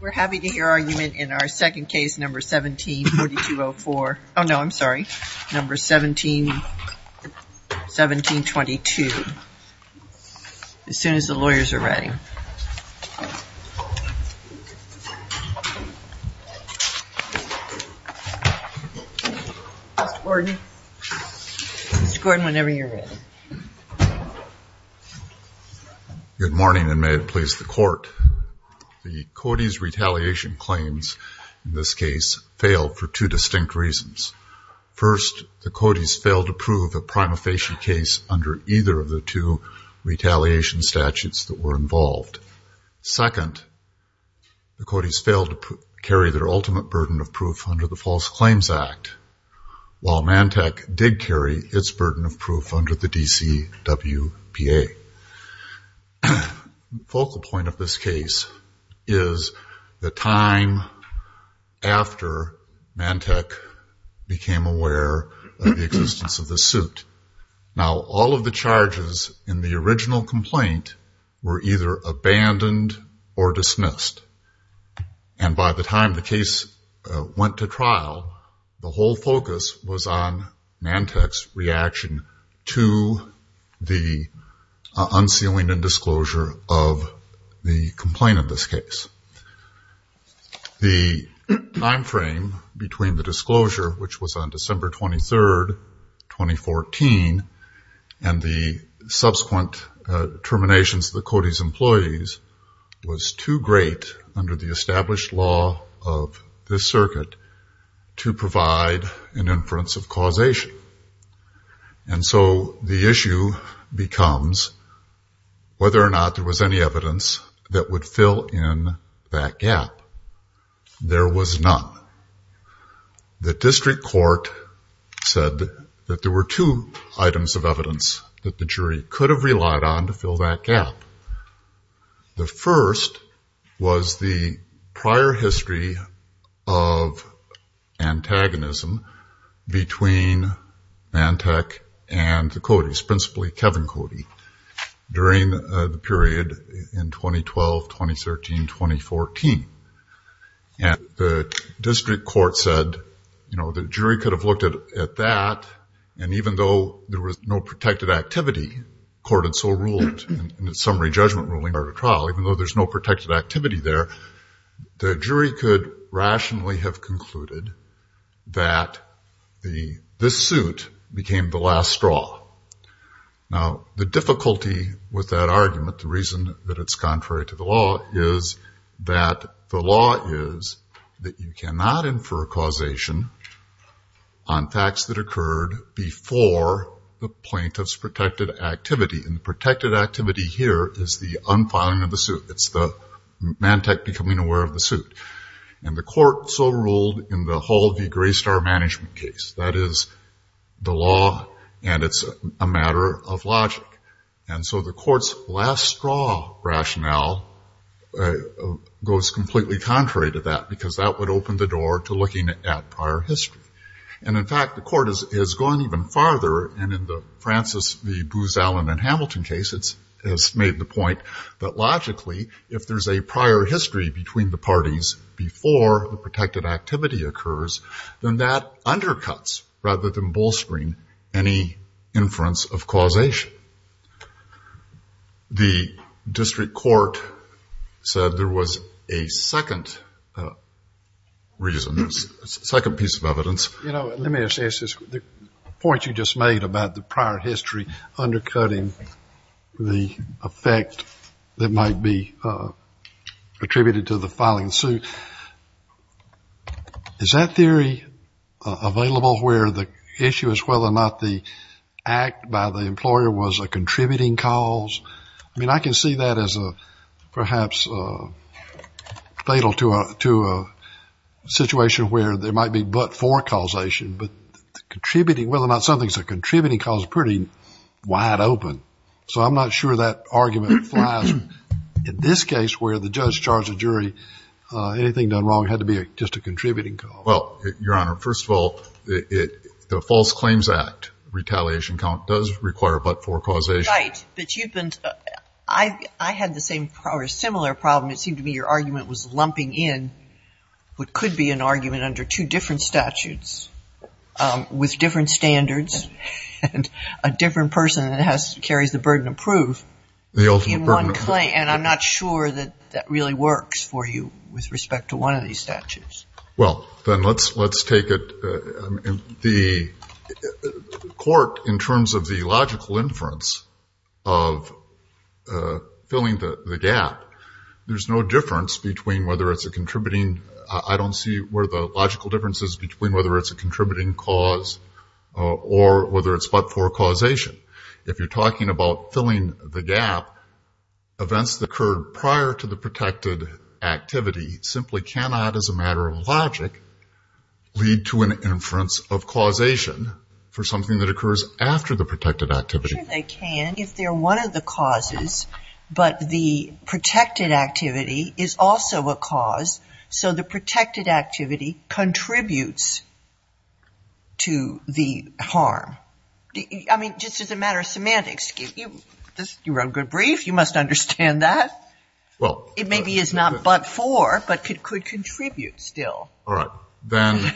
We're happy to hear argument in our second case, number 174204. Oh, no, I'm sorry. Number 171722. As soon as the lawyers are ready. Mr. Gordon. Mr. Gordon, whenever you're ready. Good morning and may it please the court. The Cody's retaliation claims in this case failed for two distinct reasons. First, the Cody's failed to prove a prima facie case under either of the two retaliation statutes that were involved. Second, the Cody's failed to carry their ultimate burden of proof under the False Claims Act, while Mantech did carry its burden of proof under the DCWPA. The focal point of this case is the time after Mantech became aware of the existence of this suit. Now, all of the charges in the original complaint were either abandoned or dismissed. And by the time the case went to trial, the whole focus was on Mantech's reaction to the unsealing and disclosure of the complaint of this case. The time frame between the disclosure, which was on December 23rd, 2014, and the subsequent terminations of the Cody's employees was too great under the established law of this circuit to provide an inference of causation. And so the issue becomes whether or not there was any evidence that would fill in that gap. There was none. The district court said that there were two items of evidence that the jury could have relied on to fill that gap. The first was the prior history of antagonism between Mantech and the Cody's, principally Kevin Cody, during the period in 2012, 2013, 2014. And the district court said, you know, the jury could have looked at that, and even though there was no protected activity, court had so ruled in its summary judgment ruling prior to trial, even though there's no protected activity there, the jury could rationally have concluded that this suit became the last straw. Now, the difficulty with that argument, the reason that it's contrary to the law, is that the law is that you cannot infer causation on facts that occurred before the plaintiff's protected activity. And the protected activity here is the unfiling of the suit. It's the Mantech becoming aware of the suit. And the court so ruled in the Hall v. Graystar management case. That is the law, and it's a matter of logic. And so the court's last straw rationale goes completely contrary to that, because that would open the door to looking at prior history. And in fact, the court is going even farther, and in the Francis v. Booz Allen and Hamilton case, it's made the point that logically, if there's a prior history between the parties before the protected activity occurs, then that undercuts, rather than bolstering, any inference of causation. The district court said there was a second reason, a second piece of evidence. You know, let me assess this. The point you just made about the prior history undercutting the effect that might be attributed to the filing suit, is that theory available where the issue is whether or not the act by the employer was a contributing cause? I mean, I can see that as perhaps fatal to a situation where there might be but-for causation, but the contributing, whether or not something's a contributing cause is pretty wide open. So I'm not sure that argument flies. In this case, where the judge charged a jury, anything done wrong had to be just a contributing cause. Well, Your Honor, first of all, the False Claims Act retaliation count does require but-for causation. Right, but you've been-I had the same or a similar problem. It seemed to me your argument was lumping in what could be an argument under two different statutes with different standards and a different person that has-carries the burden of proof in one claim. The ultimate burden of proof. And I'm not sure that that really works for you with respect to one of these statutes. Well, then let's take it-the court, in terms of the logical inference of filling the gap, there's no difference between whether it's a contributing-I don't see where the logical difference is between whether it's a contributing cause or whether it's but-for causation. If you're talking about filling the gap, events that occurred prior to the protected activity simply cannot, as a matter of logic, lead to an inference of causation for something that occurs after the protected activity. I'm not sure they can if they're one of the causes, but the protected activity is also a cause, so the protected activity contributes to the harm. I mean, just as a matter of semantics. You wrote a good brief. You must understand that. Well- It maybe is not but-for, but could contribute still. All right. Then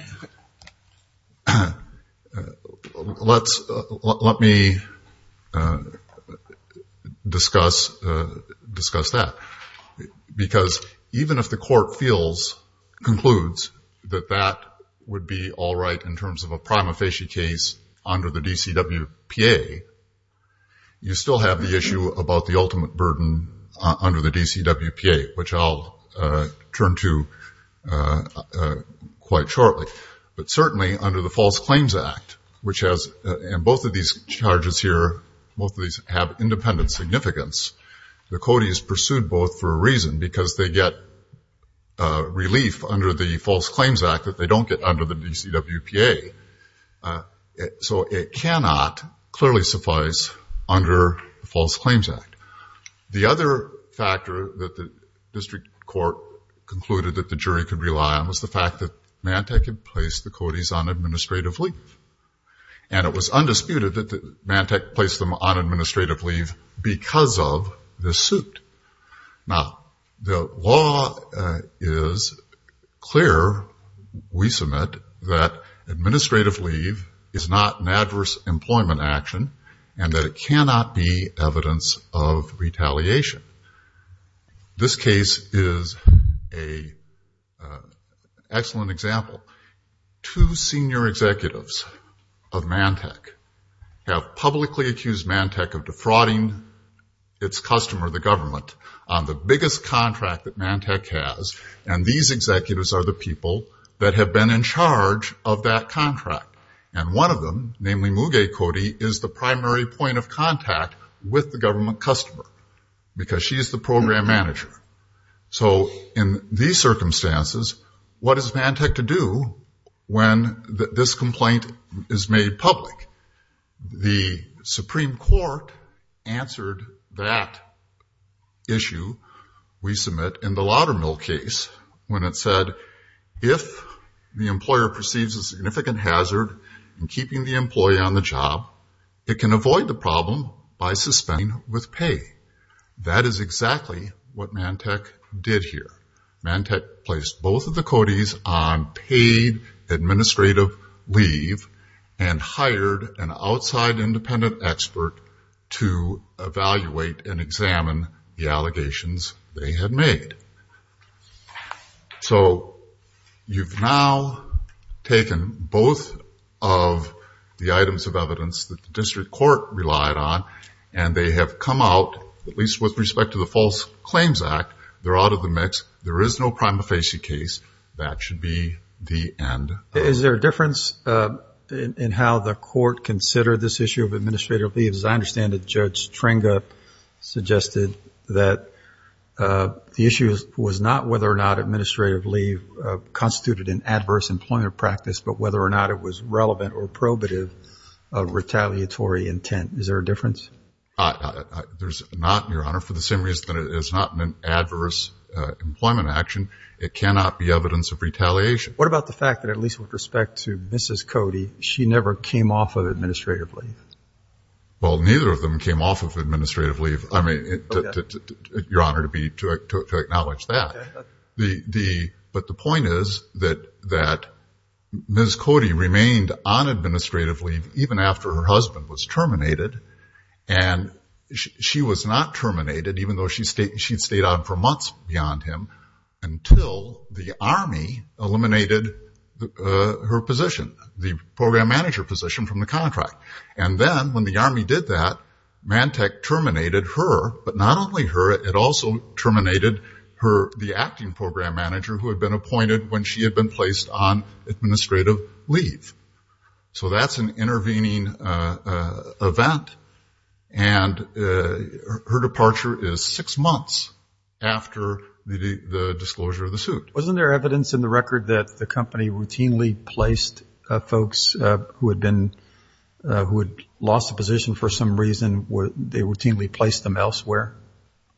let's-let me discuss that, because even if the court feels, concludes, that that would be all right in terms of a prima facie case under the DCWPA, you still have the issue about the ultimate burden under the DCWPA, which I'll turn to quite shortly. But certainly, under the False Claims Act, which has-and both of these charges here, both of these have independent significance. The COTI is pursued both for a reason, because they get relief under the False Claims Act that they don't get under the DCWPA. So it cannot clearly suffice under the False Claims Act. The other factor that the district court concluded that the jury could rely on was the fact that Mantec had placed the COTIs on administrative leave. And it was undisputed that Mantec placed them on administrative leave because of the suit. Now, the law is clear, we submit, that administrative leave is not an adverse employment action and that it cannot be evidence of retaliation. This case is an excellent example. Two senior executives of Mantec have publicly accused Mantec of defrauding its customer, the government, on the biggest contract that Mantec has. And these executives are the people that have been in charge of that contract. And one of them, namely Muge Coti, is the primary point of contact with the government customer, because she is the program manager. So in these circumstances, what is Mantec to do when this complaint is made public? The Supreme Court answered that issue, we submit, in the Laudermill case when it said, if the employer perceives a significant hazard in keeping the employee on the job, it can avoid the problem by suspending with pay. That is exactly what Mantec did here. Mantec placed both of the Cotis on paid administrative leave and hired an outside independent expert to evaluate and examine the allegations they had made. So you've now taken both of the items of evidence that the district court relied on and they have come out, at least with respect to the False Claims Act, they're out of the mix. There is no prima facie case. That should be the end. Is there a difference in how the court considered this issue of administrative leave? As I understand it, Judge Stringa suggested that the issue was not whether or not administrative leave constituted an adverse employment practice, but whether or not it was relevant or probative of retaliatory intent. Is there a difference? There's not, Your Honor, for the same reason that it is not an adverse employment action. It cannot be evidence of retaliation. What about the fact that, at least with respect to Mrs. Cotis, she never came off of administrative leave? Well, neither of them came off of administrative leave, Your Honor, to acknowledge that. But the point is that Ms. Cotis remained on administrative leave even after her husband was terminated. And she was not terminated, even though she had stayed on for months beyond him, until the Army eliminated her position, the program manager position, from the contract. And then, when the Army did that, Mantec terminated her, but not only her, it also terminated the acting program manager who had been appointed when she had been placed on administrative leave. So that's an intervening event, and her departure is six months after the disclosure of the suit. Wasn't there evidence in the record that the company routinely placed folks who had been, who had lost a position for some reason, they routinely placed them elsewhere?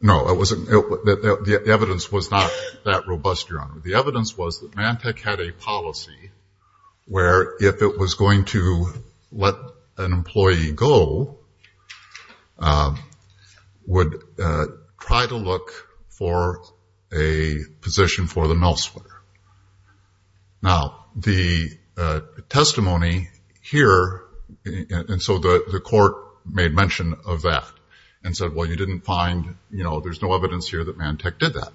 No, there wasn't. The evidence was not that robust, Your Honor. The evidence was that Mantec had a policy where, if it was going to let an employee go, would try to look for a position for them elsewhere. Now, the testimony here, and so the court made mention of that, and said, well, you didn't find, you know, there's no evidence here that Mantec did that.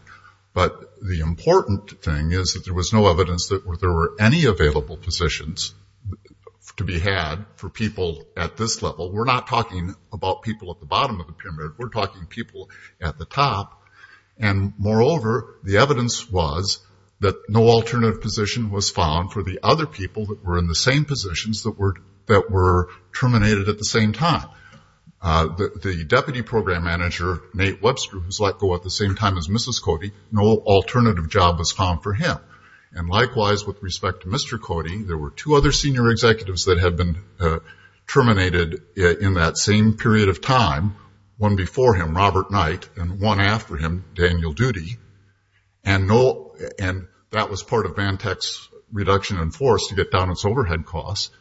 But the important thing is that there was no evidence that there were any available positions to be had for people at this level. We're not talking about people at the bottom of the pyramid. We're talking people at the top. And, moreover, the evidence was that no alternative position was found for the other people that were in the same positions that were terminated at the same time. The deputy program manager, Nate Webster, who was let go at the same time as Mrs. Cody, no alternative job was found for him. And, likewise, with respect to Mr. Cody, there were two other senior executives that had been terminated in that same period of time. One before him, Robert Knight, and one after him, Daniel Doody, and that was part of Mantec's reduction in force to get down its overhead costs.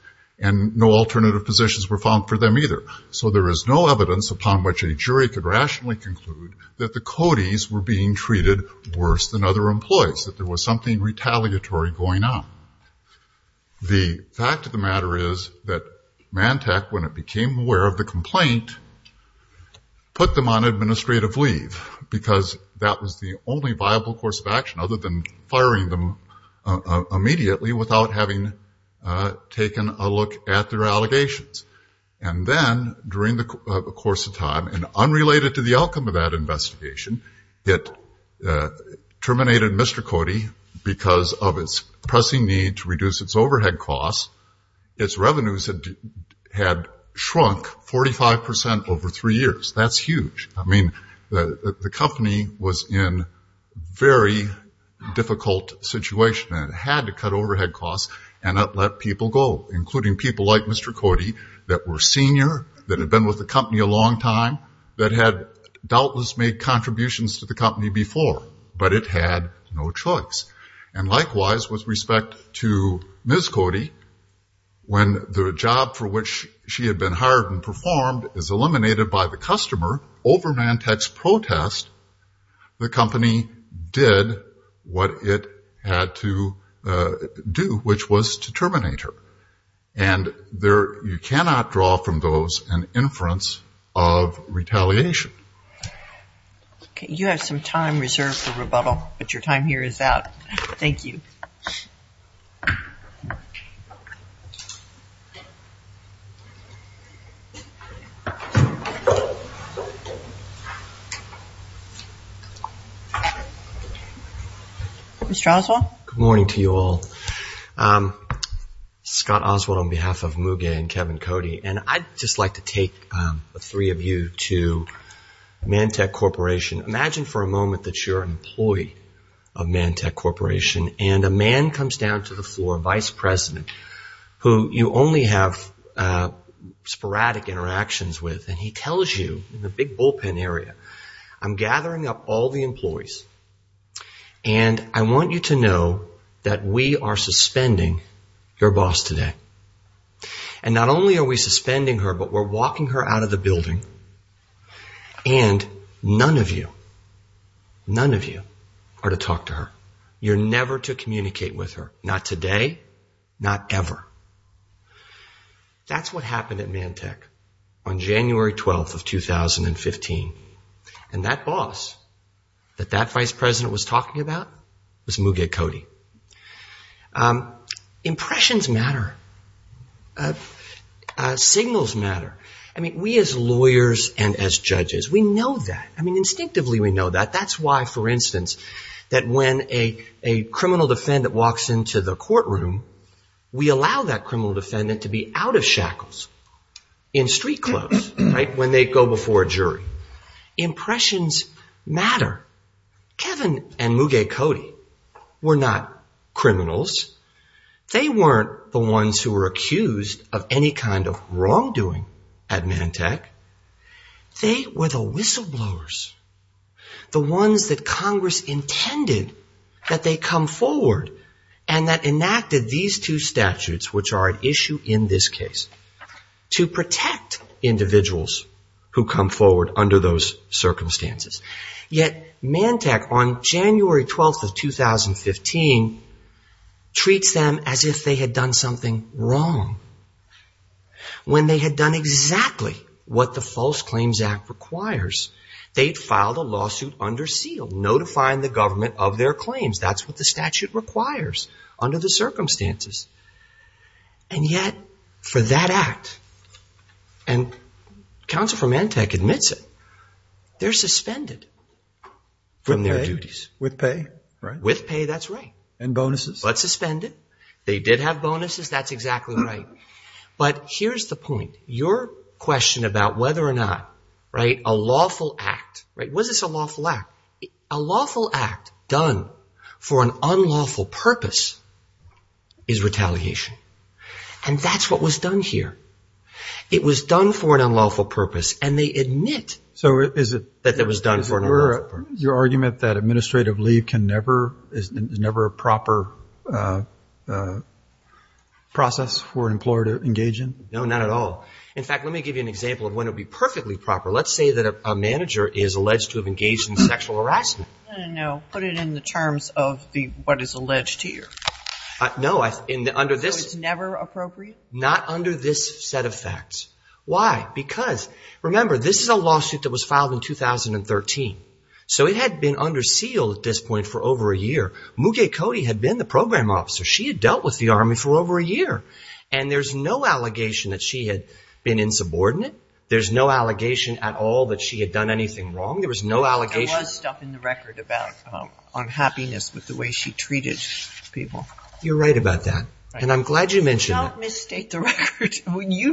And no alternative positions were found for them either. So there is no evidence upon which a jury could rationally conclude that the Codys were being treated worse than other employees, that there was something retaliatory going on. The fact of the matter is that Mantec, when it became aware of the complaint, put them on administrative leave, because that was the only viable course of action other than firing them immediately without having taken a look at their allegations. And then, during the course of time, and unrelated to the outcome of that investigation, it terminated Mr. Cody because of its pressing need to reduce its overhead costs. Its revenues had shrunk 45% over three years. That's huge. I mean, the company was in a very difficult situation, and it had to cut overhead costs and not let people go, including people like Mr. Cody that were senior, that had been with the company a long time, that had doubtless made contributions to the company before, but it had no choice. And likewise, with respect to Ms. Cody, when the job for which she had been hired and performed is eliminated by the customer over Mantec's protest, the company did what it had to do, which was to terminate her. And you cannot draw from those an inference of retaliation. Okay. You have some time reserved for rebuttal, but your time here is out. Thank you. Mr. Oswald? Good morning to you all. Scott Oswald on behalf of Muge and Kevin Cody, and I'd just like to take the three of you to Mantec Corporation. Imagine for a moment that you're an employee of Mantec Corporation, and a man comes down to the floor, a vice president, who you only have sporadic interactions with, and he tells you in the big bullpen area, I'm gathering up all the employees, and I want you to know that we are suspending your boss today. And not only are we suspending her, but we're walking her out of the building, and none of you, none of you are to talk to her. You're never to communicate with her. Not today, not ever. That's what happened at Mantec on January 12th of 2015. And that boss that that vice president was talking about was Muge Cody. Impressions matter. Signals matter. I mean, we as lawyers and as judges, we know that. I mean, instinctively we know that. That's why, for instance, that when a criminal defendant walks into the courtroom, we allow that criminal defendant to be out of shackles, in street clothes, right, when they go before a jury. Impressions matter. Kevin and Muge Cody were not criminals. They weren't the ones who were accused of any kind of wrongdoing at Mantec. They were the whistleblowers, the ones that Congress intended that they come forward and that enacted these two statutes, which are at issue in this case, to protect individuals who come forward under those circumstances. Yet Mantec, on January 12th of 2015, treats them as if they had done something wrong, when they had done exactly what the False Claims Act requires. They had filed a lawsuit under seal, notifying the government of their claims. That's what the statute requires under the circumstances. And yet for that act, and counsel for Mantec admits it, they're suspended from their duties. With pay, right? With pay, that's right. And bonuses? But suspended. They did have bonuses. That's exactly right. But here's the point. Your question about whether or not, right, a lawful act, right, was this a lawful act? A lawful act done for an unlawful purpose is retaliation. And that's what was done here. It was done for an unlawful purpose, and they admit that it was done for an unlawful purpose. Your argument that administrative leave can never, is never a proper process for an employer to engage in? No, not at all. In fact, let me give you an example of when it would be perfectly proper. Let's say that a manager is alleged to have engaged in sexual harassment. No, put it in the terms of what is alleged here. No, under this. So it's never appropriate? Not under this set of facts. Why? Because, remember, this is a lawsuit that was filed in 2013. So it had been under seal at this point for over a year. Muge Cody had been the program officer. She had dealt with the Army for over a year. And there's no allegation that she had been insubordinate. There's no allegation at all that she had done anything wrong. There was no allegation. There was stuff in the record about unhappiness with the way she treated people. You're right about that. And I'm glad you mentioned that. Do not misstate the record. You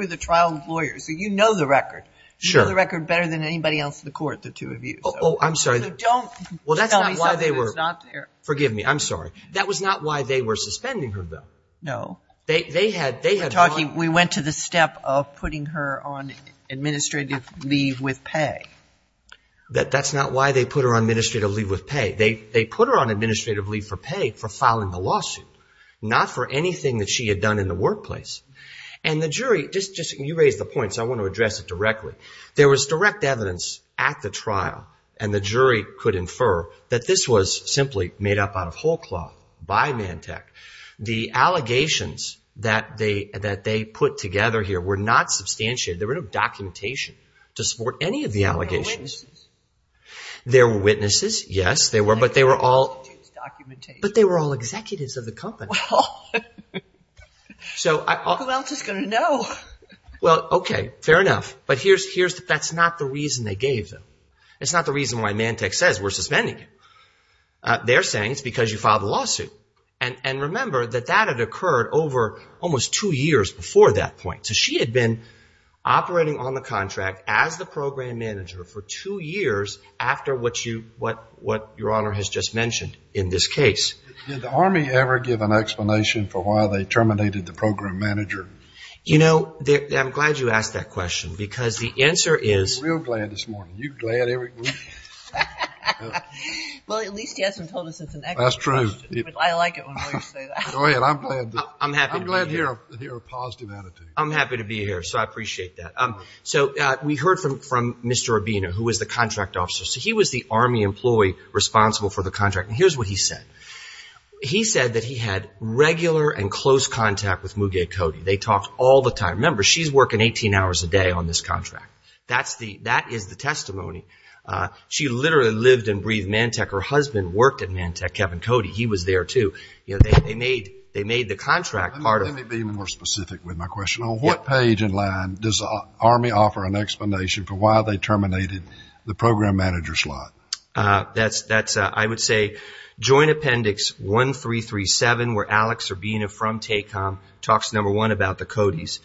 were the trial lawyer, so you know the record. You know the record better than anybody else in the court, the two of you. Oh, I'm sorry. So don't tell me something that is not there. Forgive me. I'm sorry. That was not why they were suspending her, though. No. We went to the step of putting her on administrative leave with pay. That's not why they put her on administrative leave with pay. They put her on administrative leave for pay for filing the lawsuit, not for anything that she had done in the workplace. And the jury, just you raised the point, so I want to address it directly. There was direct evidence at the trial, and the jury could infer, that this was simply made up out of whole cloth by Mantec. The allegations that they put together here were not substantiated. There were no documentation to support any of the allegations. There were witnesses. There were witnesses, yes, there were. But they were all executives of the company. Well, who else is going to know? Well, okay, fair enough. But that's not the reason they gave them. It's not the reason why Mantec says we're suspending you. They're saying it's because you filed a lawsuit. And remember that that had occurred over almost two years before that point. So she had been operating on the contract as the program manager for two years after what Your Honor has just mentioned in this case. Did the Army ever give an explanation for why they terminated the program manager? You know, I'm glad you asked that question, because the answer is... I'm real glad this morning. Are you glad? Well, at least he hasn't told us it's an excellent question. That's true. I like it when lawyers say that. Go ahead, I'm glad. I'm glad to hear a positive attitude. I'm happy to be here, so I appreciate that. So we heard from Mr. Urbino, who was the contract officer. So he was the Army employee responsible for the contract. And here's what he said. He said that he had regular and close contact with Muge Cody. They talked all the time. Remember, she's working 18 hours a day on this contract. That is the testimony. She literally lived and breathed Mantec. Her husband worked at Mantec, Kevin Cody. He was there, too. They made the contract part of it. Let me be more specific with my question. On what page and line does the Army offer an explanation for why they terminated the program manager slot? I would say Joint Appendix 1337, where Alex Urbino from TACOM talks, number one, about the Codys.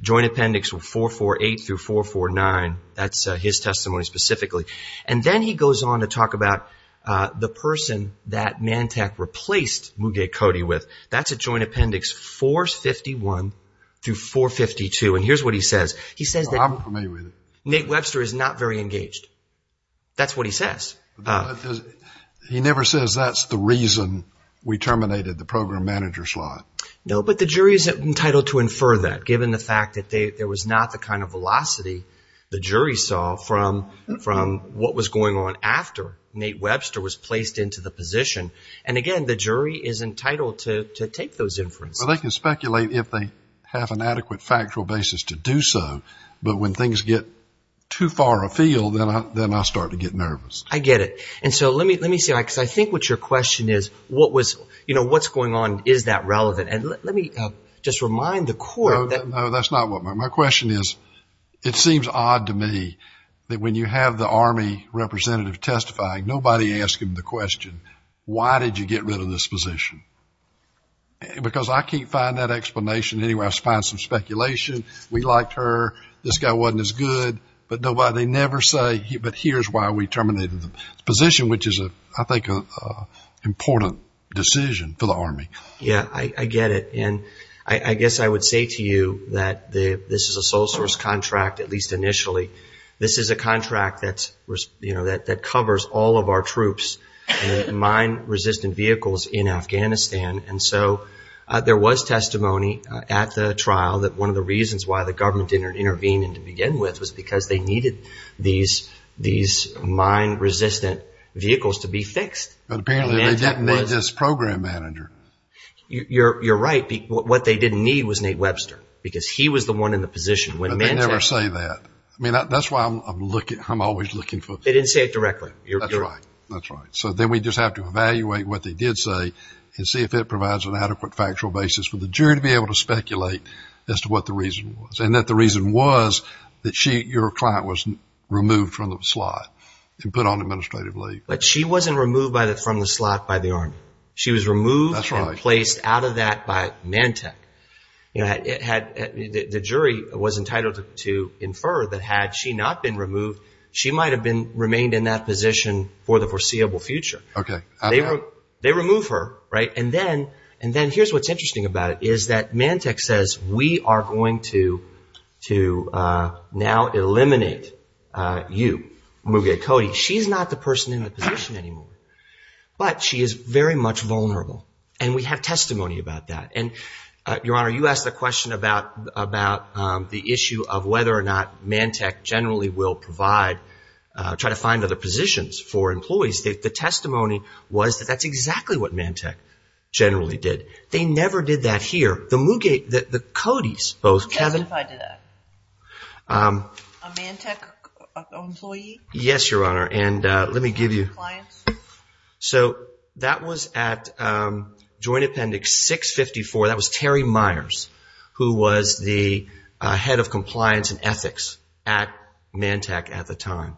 Joint Appendix 448 through 449, that's his testimony specifically. And then he goes on to talk about the person that Mantec replaced Muge Cody with. That's at Joint Appendix 451 through 452. And here's what he says. He says that Nate Webster is not very engaged. That's what he says. He never says that's the reason we terminated the program manager slot. No, but the jury is entitled to infer that, given the fact that there was not the kind of velocity the jury saw from what was going on after Nate Webster was placed into the position. And, again, the jury is entitled to take those inferences. Well, they can speculate if they have an adequate factual basis to do so. But when things get too far afield, then I start to get nervous. I get it. And so let me see. Because I think what your question is, what's going on, is that relevant? And let me just remind the court. No, that's not what my question is. It seems odd to me that when you have the Army representative testifying, nobody asking the question, why did you get rid of this position? Because I can't find that explanation anywhere. I find some speculation. We liked her. This guy wasn't as good. But they never say, but here's why we terminated the position, which is, I think, an important decision for the Army. Yeah, I get it. And I guess I would say to you that this is a sole source contract, at least initially. This is a contract that covers all of our troops and mine-resistant vehicles in Afghanistan. And so there was testimony at the trial that one of the reasons why the government didn't intervene to begin with was because they needed these mine-resistant vehicles to be fixed. But apparently they didn't need this program manager. You're right. What they didn't need was Nate Webster because he was the one in the position. But they never say that. I mean, that's why I'm always looking for them. They didn't say it directly. That's right. That's right. So then we just have to evaluate what they did say and see if it provides an adequate factual basis for the jury to be able to speculate as to what the reason was and that the reason was that your client was removed from the slot and put on administrative leave. But she wasn't removed from the slot by the Army. She was removed and placed out of that by Mantec. The jury was entitled to infer that had she not been removed, she might have remained in that position for the foreseeable future. Okay. They remove her, right? And then here's what's interesting about it is that Mantec says we are going to now eliminate you, Muge Cody. She's not the person in the position anymore. But she is very much vulnerable. And we have testimony about that. And, Your Honor, you asked the question about the issue of whether or not Mantec generally will provide, try to find other positions for employees. The testimony was that that's exactly what Mantec generally did. They never did that here. The Muge, the Codys, both Kevin. Identify to that. A Mantec employee? Yes, Your Honor. And let me give you. Clients? So that was at Joint Appendix 654. That was Terry Myers, who was the head of compliance and ethics at Mantec at the time.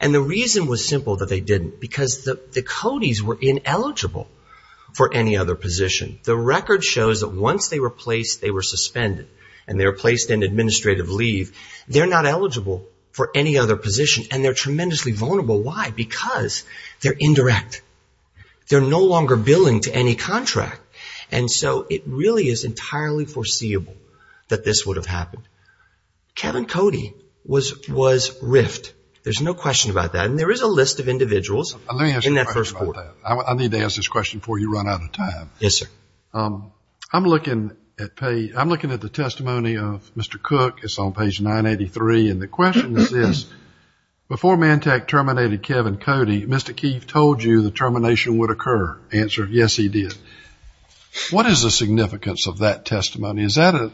And the reason was simple, that they didn't. Because the Codys were ineligible for any other position. The record shows that once they were placed, they were suspended. And they were placed in administrative leave. They're not eligible for any other position. And they're tremendously vulnerable. Why? Because they're indirect. They're no longer billing to any contract. And so it really is entirely foreseeable that this would have happened. Kevin Cody was riffed. There's no question about that. And there is a list of individuals in that first quarter. Let me ask you a question about that. I need to ask this question before you run out of time. Yes, sir. I'm looking at the testimony of Mr. Cook. It's on page 983. And the question is this. Before Mantec terminated Kevin Cody, Mr. Keefe told you the termination would occur. Answer, yes, he did. What is the significance of that testimony? Is that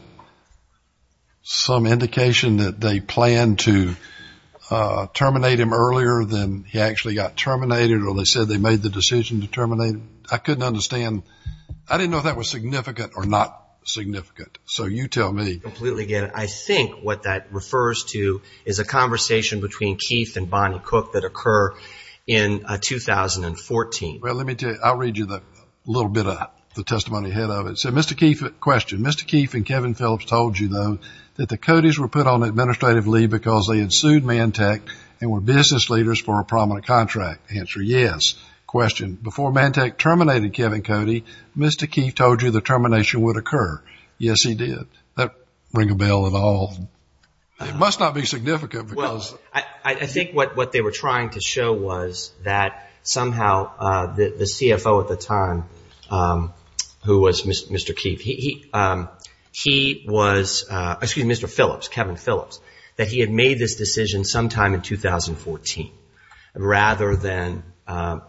some indication that they planned to terminate him earlier than he actually got terminated? Or they said they made the decision to terminate him? I couldn't understand. I didn't know if that was significant or not significant. So you tell me. I completely get it. I think what that refers to is a conversation between Keefe and Bonnie Cook that occurred in 2014. Well, let me tell you. I'll read you a little bit of the testimony ahead of it. So Mr. Keefe, question. Mr. Keefe and Kevin Phillips told you, though, that the Codys were put on administrative leave because they had sued Mantec and were business leaders for a prominent contract. Answer, yes. Question. Before Mantec terminated Kevin Cody, Mr. Keefe told you the termination would occur. Yes, he did. Does that ring a bell at all? It must not be significant. Well, I think what they were trying to show was that somehow the CFO at the time, who was Mr. Keefe, he was, excuse me, Mr. Phillips, Kevin Phillips, that he had made this decision sometime in 2014 rather than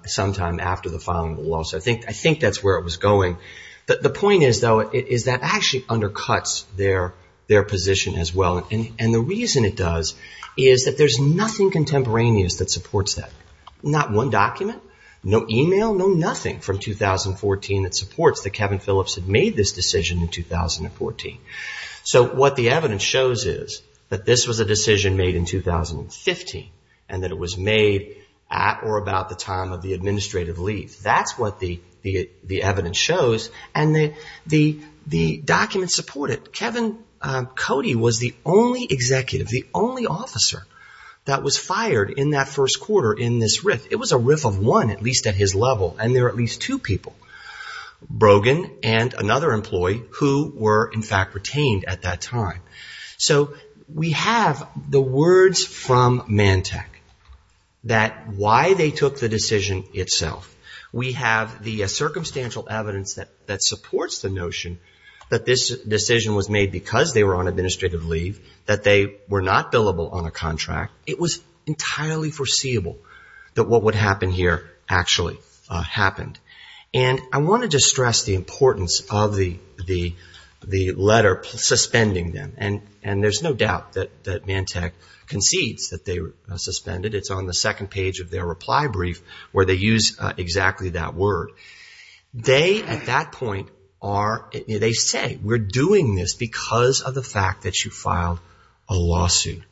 sometime after the filing of the law. So I think that's where it was going. The point is, though, is that actually undercuts their position as well. And the reason it does is that there's nothing contemporaneous that supports that. Not one document, no email, no nothing from 2014 that supports that Kevin Phillips had made this decision in 2014. So what the evidence shows is that this was a decision made in 2015 and that it was made at or about the time of the administrative leave. That's what the evidence shows and the documents support it. Kevin Cody was the only executive, the only officer that was fired in that first quarter in this RIF. It was a RIF of one, at least at his level, and there were at least two people, Brogan and another employee who were in fact retained at that time. So we have the words from Mantec that why they took the decision itself. We have the circumstantial evidence that supports the notion that this decision was made because they were on administrative leave, that they were not billable on a contract. It was entirely foreseeable that what would happen here actually happened. And I wanted to stress the importance of the letter suspending them. And there's no doubt that Mantec concedes that they were suspended. It's on the second page of their reply brief where they use exactly that word. They, at that point, they say we're doing this because of the fact that you filed a lawsuit.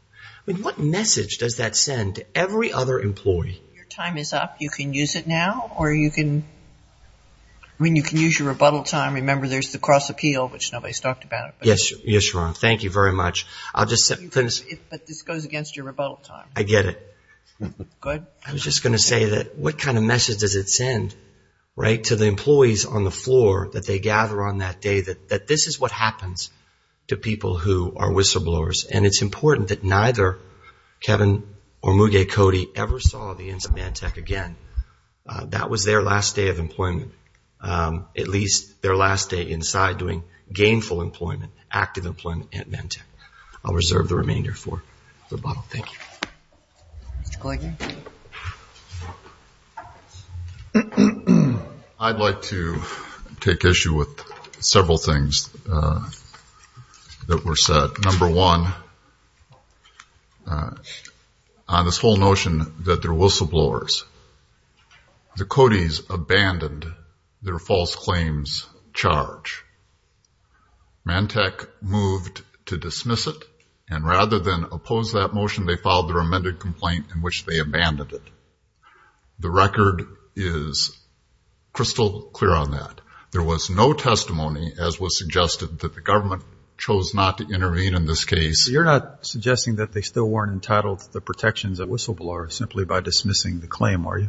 What message does that send to every other employee? Your time is up. You can use it now or you can use your rebuttal time. Remember, there's the cross appeal, which nobody's talked about. Yes, Your Honor. Thank you very much. I'll just finish. But this goes against your rebuttal time. I get it. Go ahead. I was just going to say that what kind of message does it send, right, to the employees on the floor that they gather on that day, that this is what happens to people who are whistleblowers. And it's important that neither Kevin or Muge Cody ever saw the ends of Mantec again. That was their last day of employment, at least their last day inside doing gainful employment, active employment at Mantec. I'll reserve the remainder for rebuttal. Thank you. Mr. Kluge? I'd like to take issue with several things that were said. Number one, on this whole notion that they're whistleblowers, the Codys abandoned their false claims charge. Mantec moved to dismiss it, and rather than oppose that motion, they filed their amended complaint in which they abandoned it. The record is crystal clear on that. There was no testimony, as was suggested, that the government chose not to intervene in this case. You're not suggesting that they still weren't entitled to the protections of whistleblowers simply by dismissing the claim, are you?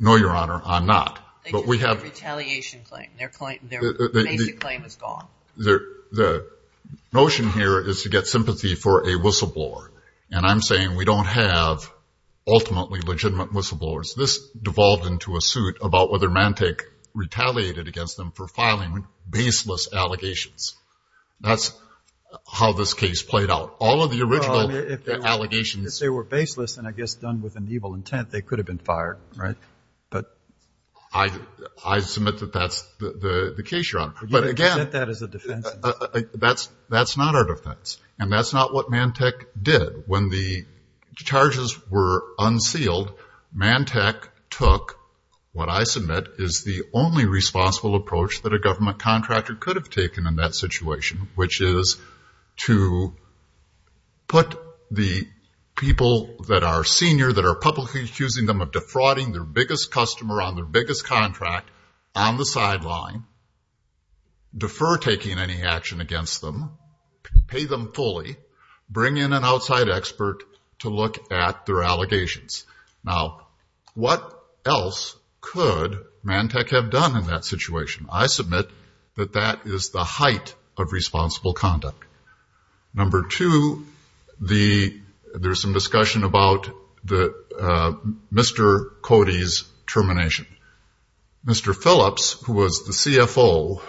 No, Your Honor, I'm not. They just made a retaliation claim. Their basic claim is gone. The notion here is to get sympathy for a whistleblower, and I'm saying we don't have ultimately legitimate whistleblowers. This devolved into a suit about whether Mantec retaliated against them for filing baseless allegations. That's how this case played out. All of the original allegations. If they were baseless and, I guess, done with an evil intent, they could have been fired, right? I submit that that's the case, Your Honor. But, again, that's not our defense, and that's not what Mantec did. When the charges were unsealed, Mantec took what I submit is the only responsible approach that a government contractor could have taken in that situation, which is to put the people that are senior, that are publicly accusing them of defrauding their biggest customer on their biggest contract, on the sideline, defer taking any action against them, pay them fully, bring in an outside expert to look at their allegations. Now, what else could Mantec have done in that situation? I submit that that is the height of responsible conduct. Number two, there's some discussion about Mr. Cody's termination. Mr. Phillips, who was the CFO,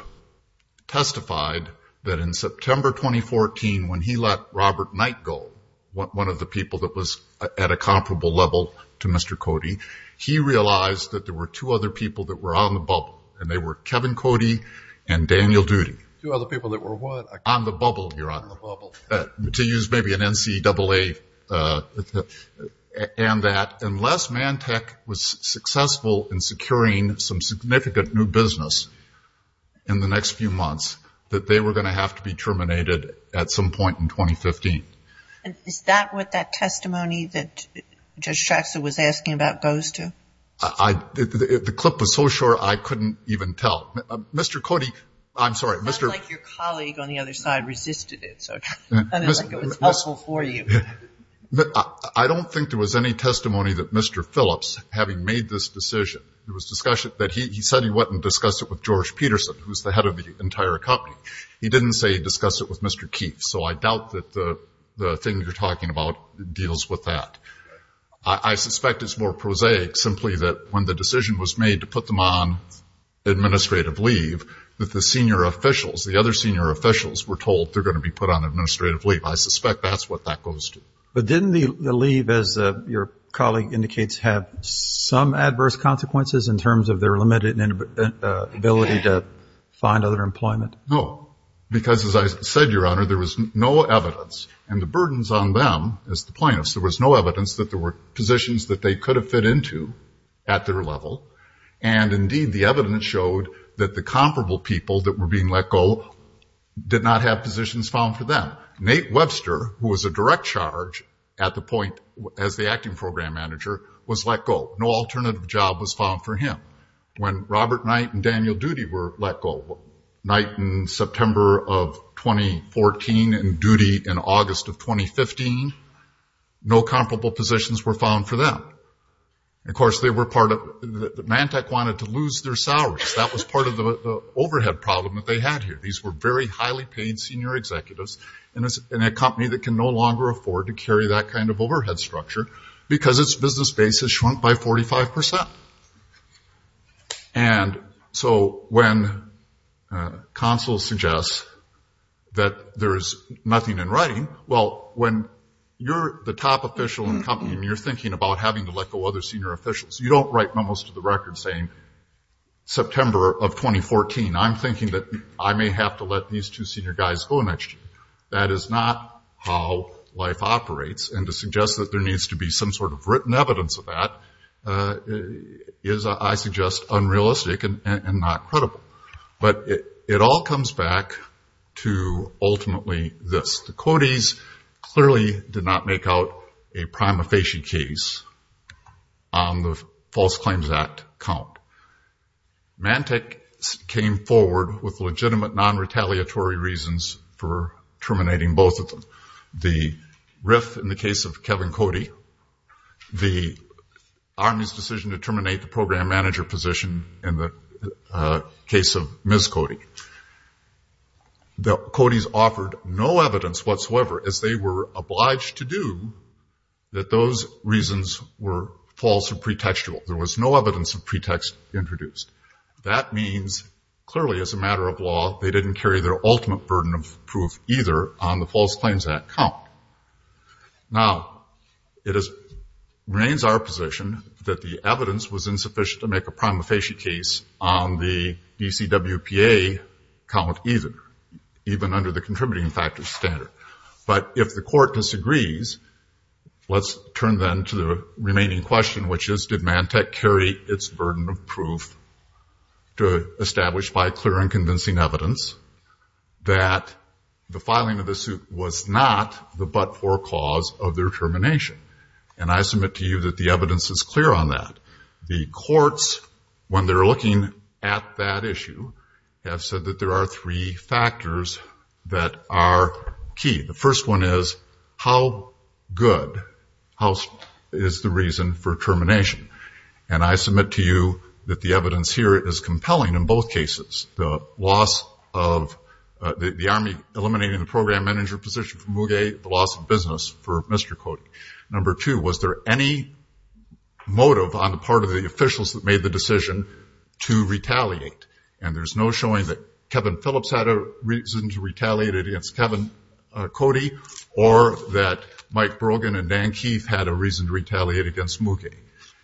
testified that in September 2014, when he let Robert Knight go, one of the people that was at a comparable level to Mr. Cody, he realized that there were two other people that were on the bubble, and they were Kevin Cody and Daniel Doody. Two other people that were what? On the bubble, Your Honor. On the bubble. To use maybe an NCAA. And that unless Mantec was successful in securing some significant new business in the next few months, that they were going to have to be terminated at some point in 2015. Is that what that testimony that Judge Traxler was asking about goes to? The clip was so short, I couldn't even tell. Mr. Cody, I'm sorry. It sounded like your colleague on the other side resisted it. It was helpful for you. I don't think there was any testimony that Mr. Phillips, having made this decision, he said he went and discussed it with George Peterson, who's the head of the entire company. He didn't say he discussed it with Mr. Keefe, so I doubt that the thing you're talking about deals with that. I suspect it's more prosaic simply that when the decision was made to put them on administrative leave, that the senior officials, the other senior officials were told they're going to be put on administrative leave. I suspect that's what that goes to. But didn't the leave, as your colleague indicates, have some adverse consequences in terms of their limited ability to find other employment? No, because as I said, Your Honor, there was no evidence. And the burdens on them, as the plaintiffs, there was no evidence that there were positions that they could have fit into at their level. And indeed, the evidence showed that the comparable people that were being let go did not have positions found for them. Nate Webster, who was a direct charge at the point as the acting program manager, was let go. No alternative job was found for him. When Robert Knight and Daniel Doody were let go, Knight in September of 2014 and Doody in August of 2015, no comparable positions were found for them. And, of course, Mantec wanted to lose their salaries. That was part of the overhead problem that they had here. These were very highly paid senior executives in a company that can no longer afford to carry that kind of overhead structure because its business base has shrunk by 45%. And so when counsel suggests that there is nothing in writing, well, when you're the top official in the company and you're thinking about having to let go other senior officials, you don't write memos to the record saying, September of 2014, I'm thinking that I may have to let these two senior guys go next year. That is not how life operates. And to suggest that there needs to be some sort of written evidence of that is, I suggest, unrealistic and not credible. But it all comes back to ultimately this. The Cody's clearly did not make out a prima facie case on the False Claims Act count. Mantec came forward with legitimate non-retaliatory reasons for terminating both of them. The RIF in the case of Kevin Cody, the Army's decision to terminate the program manager position in the case of Ms. Cody. The Cody's offered no evidence whatsoever, as they were obliged to do, that those reasons were false or pretextual. There was no evidence of pretext introduced. That means, clearly, as a matter of law, they didn't carry their ultimate burden of proof either on the False Claims Act count. Now, it remains our position that the evidence was insufficient to make a prima facie case on the DCWPA count either, even under the contributing factors standard. But if the court disagrees, let's turn then to the remaining question, which is, did Mantec carry its burden of proof to establish by clear and convincing evidence that the filing of the suit was not the but-for cause of their termination? And I submit to you that the evidence is clear on that. The courts, when they're looking at that issue, have said that there are three factors that are key. The first one is, how good is the reason for termination? And I submit to you that the evidence here is compelling in both cases. The Army eliminating the program manager position for Muge, the loss of business for Mr. Cody. Number two, was there any motive on the part of the officials that made the decision to retaliate? And there's no showing that Kevin Phillips had a reason to retaliate against Kevin Cody or that Mike Brogan and Dan Keith had a reason to retaliate against Muge.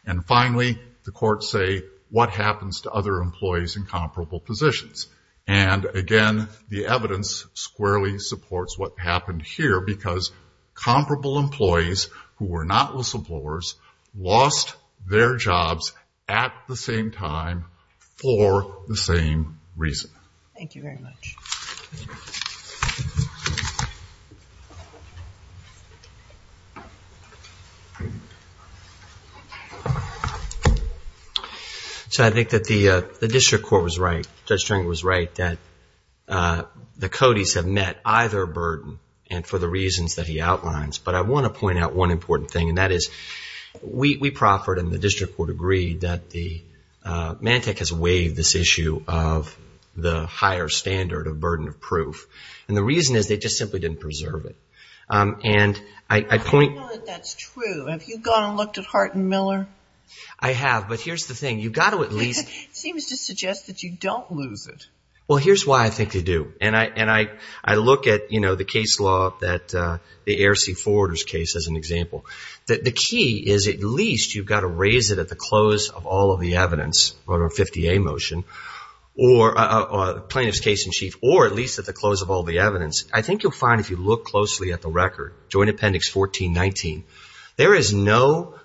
And finally, the courts say, what happens to other employees in comparable positions? And again, the evidence squarely supports what happened here because comparable employees who were not list employers lost their jobs at the same time for the same reason. Thank you very much. So I think that the district court was right. Judge Stringer was right that the Codys have met either burden and for the reasons that he outlines. But I want to point out one important thing, and that is, we proffered and the district court agreed that the Mantec has waived this issue of the higher standard of burden of proof. And the reason is they just simply didn't preserve it. I know that that's true. Have you gone and looked at Hart and Miller? I have, but here's the thing. It seems to suggest that you don't lose it. Well, here's why I think they do. And I look at, you know, the case law, the Air Sea Forwarder's case as an example. The key is at least you've got to raise it at the close of all of the evidence, the 50A motion, plaintiff's case in chief, or at least at the close of all the evidence. I think you'll find if you look closely at the record, Joint Appendix 1419, there is no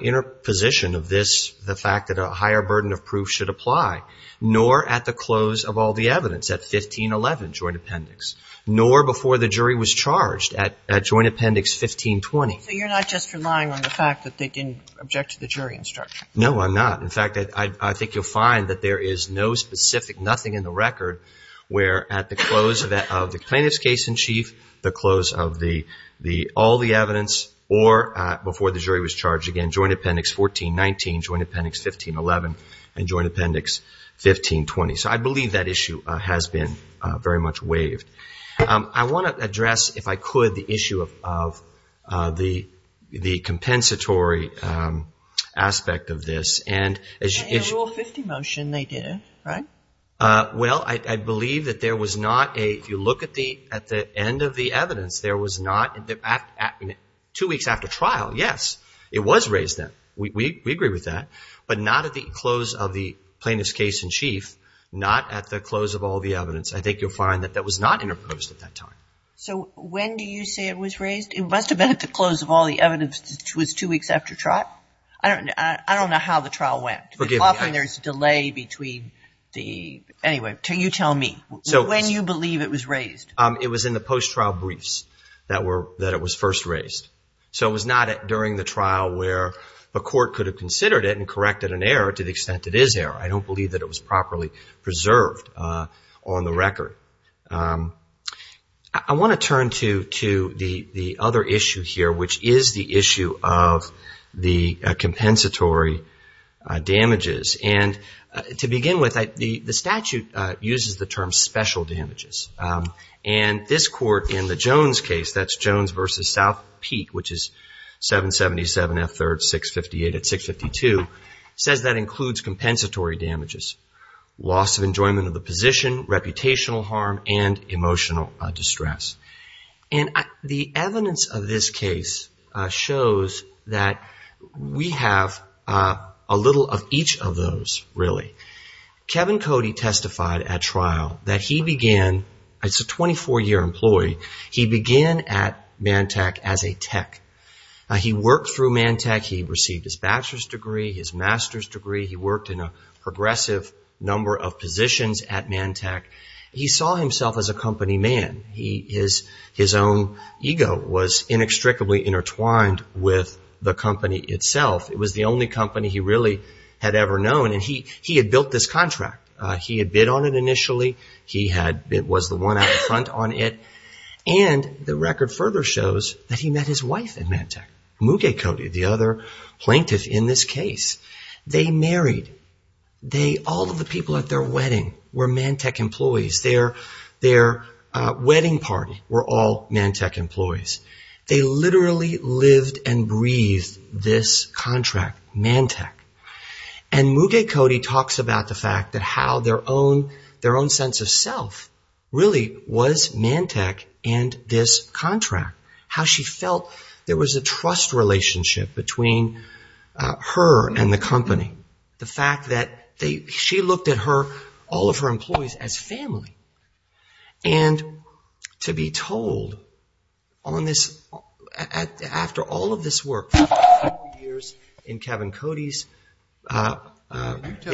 interposition of this, the fact that a higher burden of proof should apply, nor at the close of all the evidence at 1511 Joint Appendix, nor before the jury was charged at Joint Appendix 1520. So you're not just relying on the fact that they didn't object to the jury instruction? No, I'm not. In fact, I think you'll find that there is no specific nothing in the record where at the close of the plaintiff's case in chief, again, Joint Appendix 1419, Joint Appendix 1511, and Joint Appendix 1520. So I believe that issue has been very much waived. I want to address, if I could, the issue of the compensatory aspect of this. And in Rule 50 motion they did it, right? Well, I believe that there was not a, if you look at the end of the evidence, there was not, two weeks after trial, yes, it was raised then, we agree with that, but not at the close of the plaintiff's case in chief, not at the close of all the evidence. I think you'll find that that was not interposed at that time. So when do you say it was raised? It must have been at the close of all the evidence, which was two weeks after trial. I don't know how the trial went. Often there's a delay between the, anyway, you tell me. When do you believe it was raised? It was in the post-trial briefs that it was first raised. So it was not during the trial where the court could have considered it and corrected an error to the extent it is error. I don't believe that it was properly preserved on the record. I want to turn to the other issue here, which is the issue of the compensatory damages. And to begin with, the statute uses the term special damages. And this court in the Jones case, that's Jones v. South Peak, which is 777 F. 3rd, 658 at 652, says that includes compensatory damages, loss of enjoyment of the position, reputational harm, and emotional distress. And the evidence of this case shows that we have a little of each of those, really. Kevin Cody testified at trial that he began, as a 24-year employee, he began at Mantec as a tech. He worked through Mantec. He received his bachelor's degree, his master's degree. He worked in a progressive number of positions at Mantec. He saw himself as a company man. His own ego was inextricably intertwined with the company itself. It was the only company he really had ever known. And he had built this contract. He had bid on it initially. He was the one out in front on it. And the record further shows that he met his wife at Mantec, Muge Cody, the other plaintiff in this case. They married. All of the people at their wedding were Mantec employees. Their wedding party were all Mantec employees. They literally lived and breathed this contract, Mantec. And Muge Cody talks about the fact that how their own sense of self really was Mantec and this contract. How she felt there was a trust relationship between her and the company. The fact that she looked at all of her employees as family. And to be told on this, after all of this work, years in Kevin Cody's behalf. You tell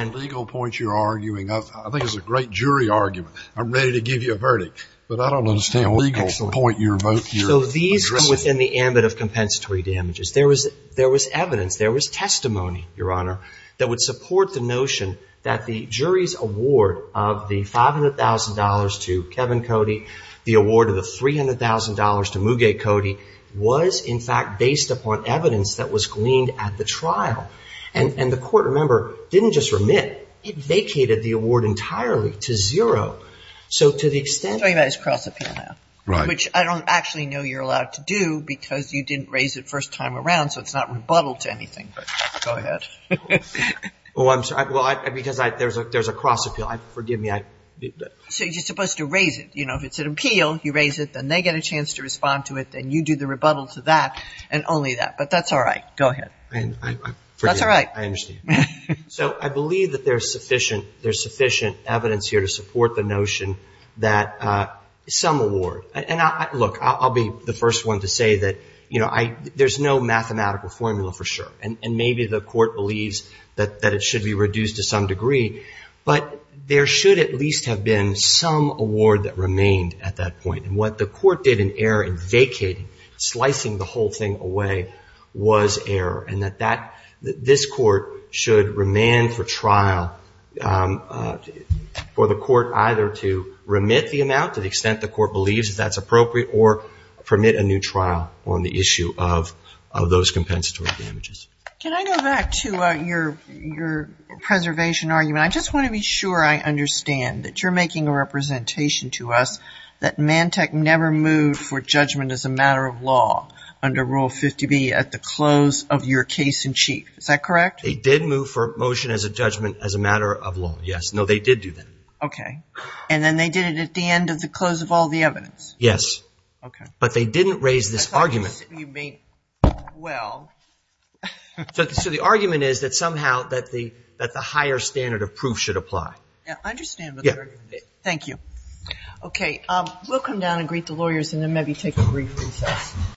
me what legal point you're arguing. I think it's a great jury argument. I'm ready to give you a verdict. But I don't understand what legal point you're voicing. So these were within the ambit of compensatory damages. There was evidence. There was testimony, Your Honor, that would support the notion that the jury's award of the $500,000 to Kevin Cody, the award of the $300,000 to Muge Cody, was in fact based upon evidence that was gleaned at the trial. And the court, remember, didn't just remit. It vacated the award entirely to zero. So to the extent. I'm talking about his cross appeal now. Right. Which I don't actually know you're allowed to do because you didn't raise it first time around. So it's not rebuttal to anything. Go ahead. Oh, I'm sorry. Because there's a cross appeal. Forgive me. So you're supposed to raise it. If it's an appeal, you raise it. Then they get a chance to respond to it. Then you do the rebuttal to that and only that. But that's all right. Go ahead. That's all right. I understand. So I believe that there's sufficient evidence here to support the notion that some award. And look, I'll be the first one to say that there's no mathematical formula for sure. And maybe the court believes that it should be reduced to some degree. But there should at least have been some award that remained at that point. And what the court did in error in vacating, slicing the whole thing away, was error. And that this court should remand for trial for the court either to remit the amount to the extent the court believes that that's appropriate or permit a new trial on the issue of those compensatory damages. Can I go back to your preservation argument? I just want to be sure I understand that you're making a representation to us that Mantech never moved for judgment as a matter of law under Rule 50B at the close of your case in chief. Is that correct? They did move for motion as a judgment as a matter of law, yes. No, they did do that. Okay. And then they did it at the end of the close of all the evidence? Yes. Okay. But they didn't raise this argument. I thought you said you meant, well. So the argument is that somehow that the higher standard of proof should apply. Yeah, I understand. Thank you. Okay. We'll come down and greet the lawyers and then maybe take a brief recess.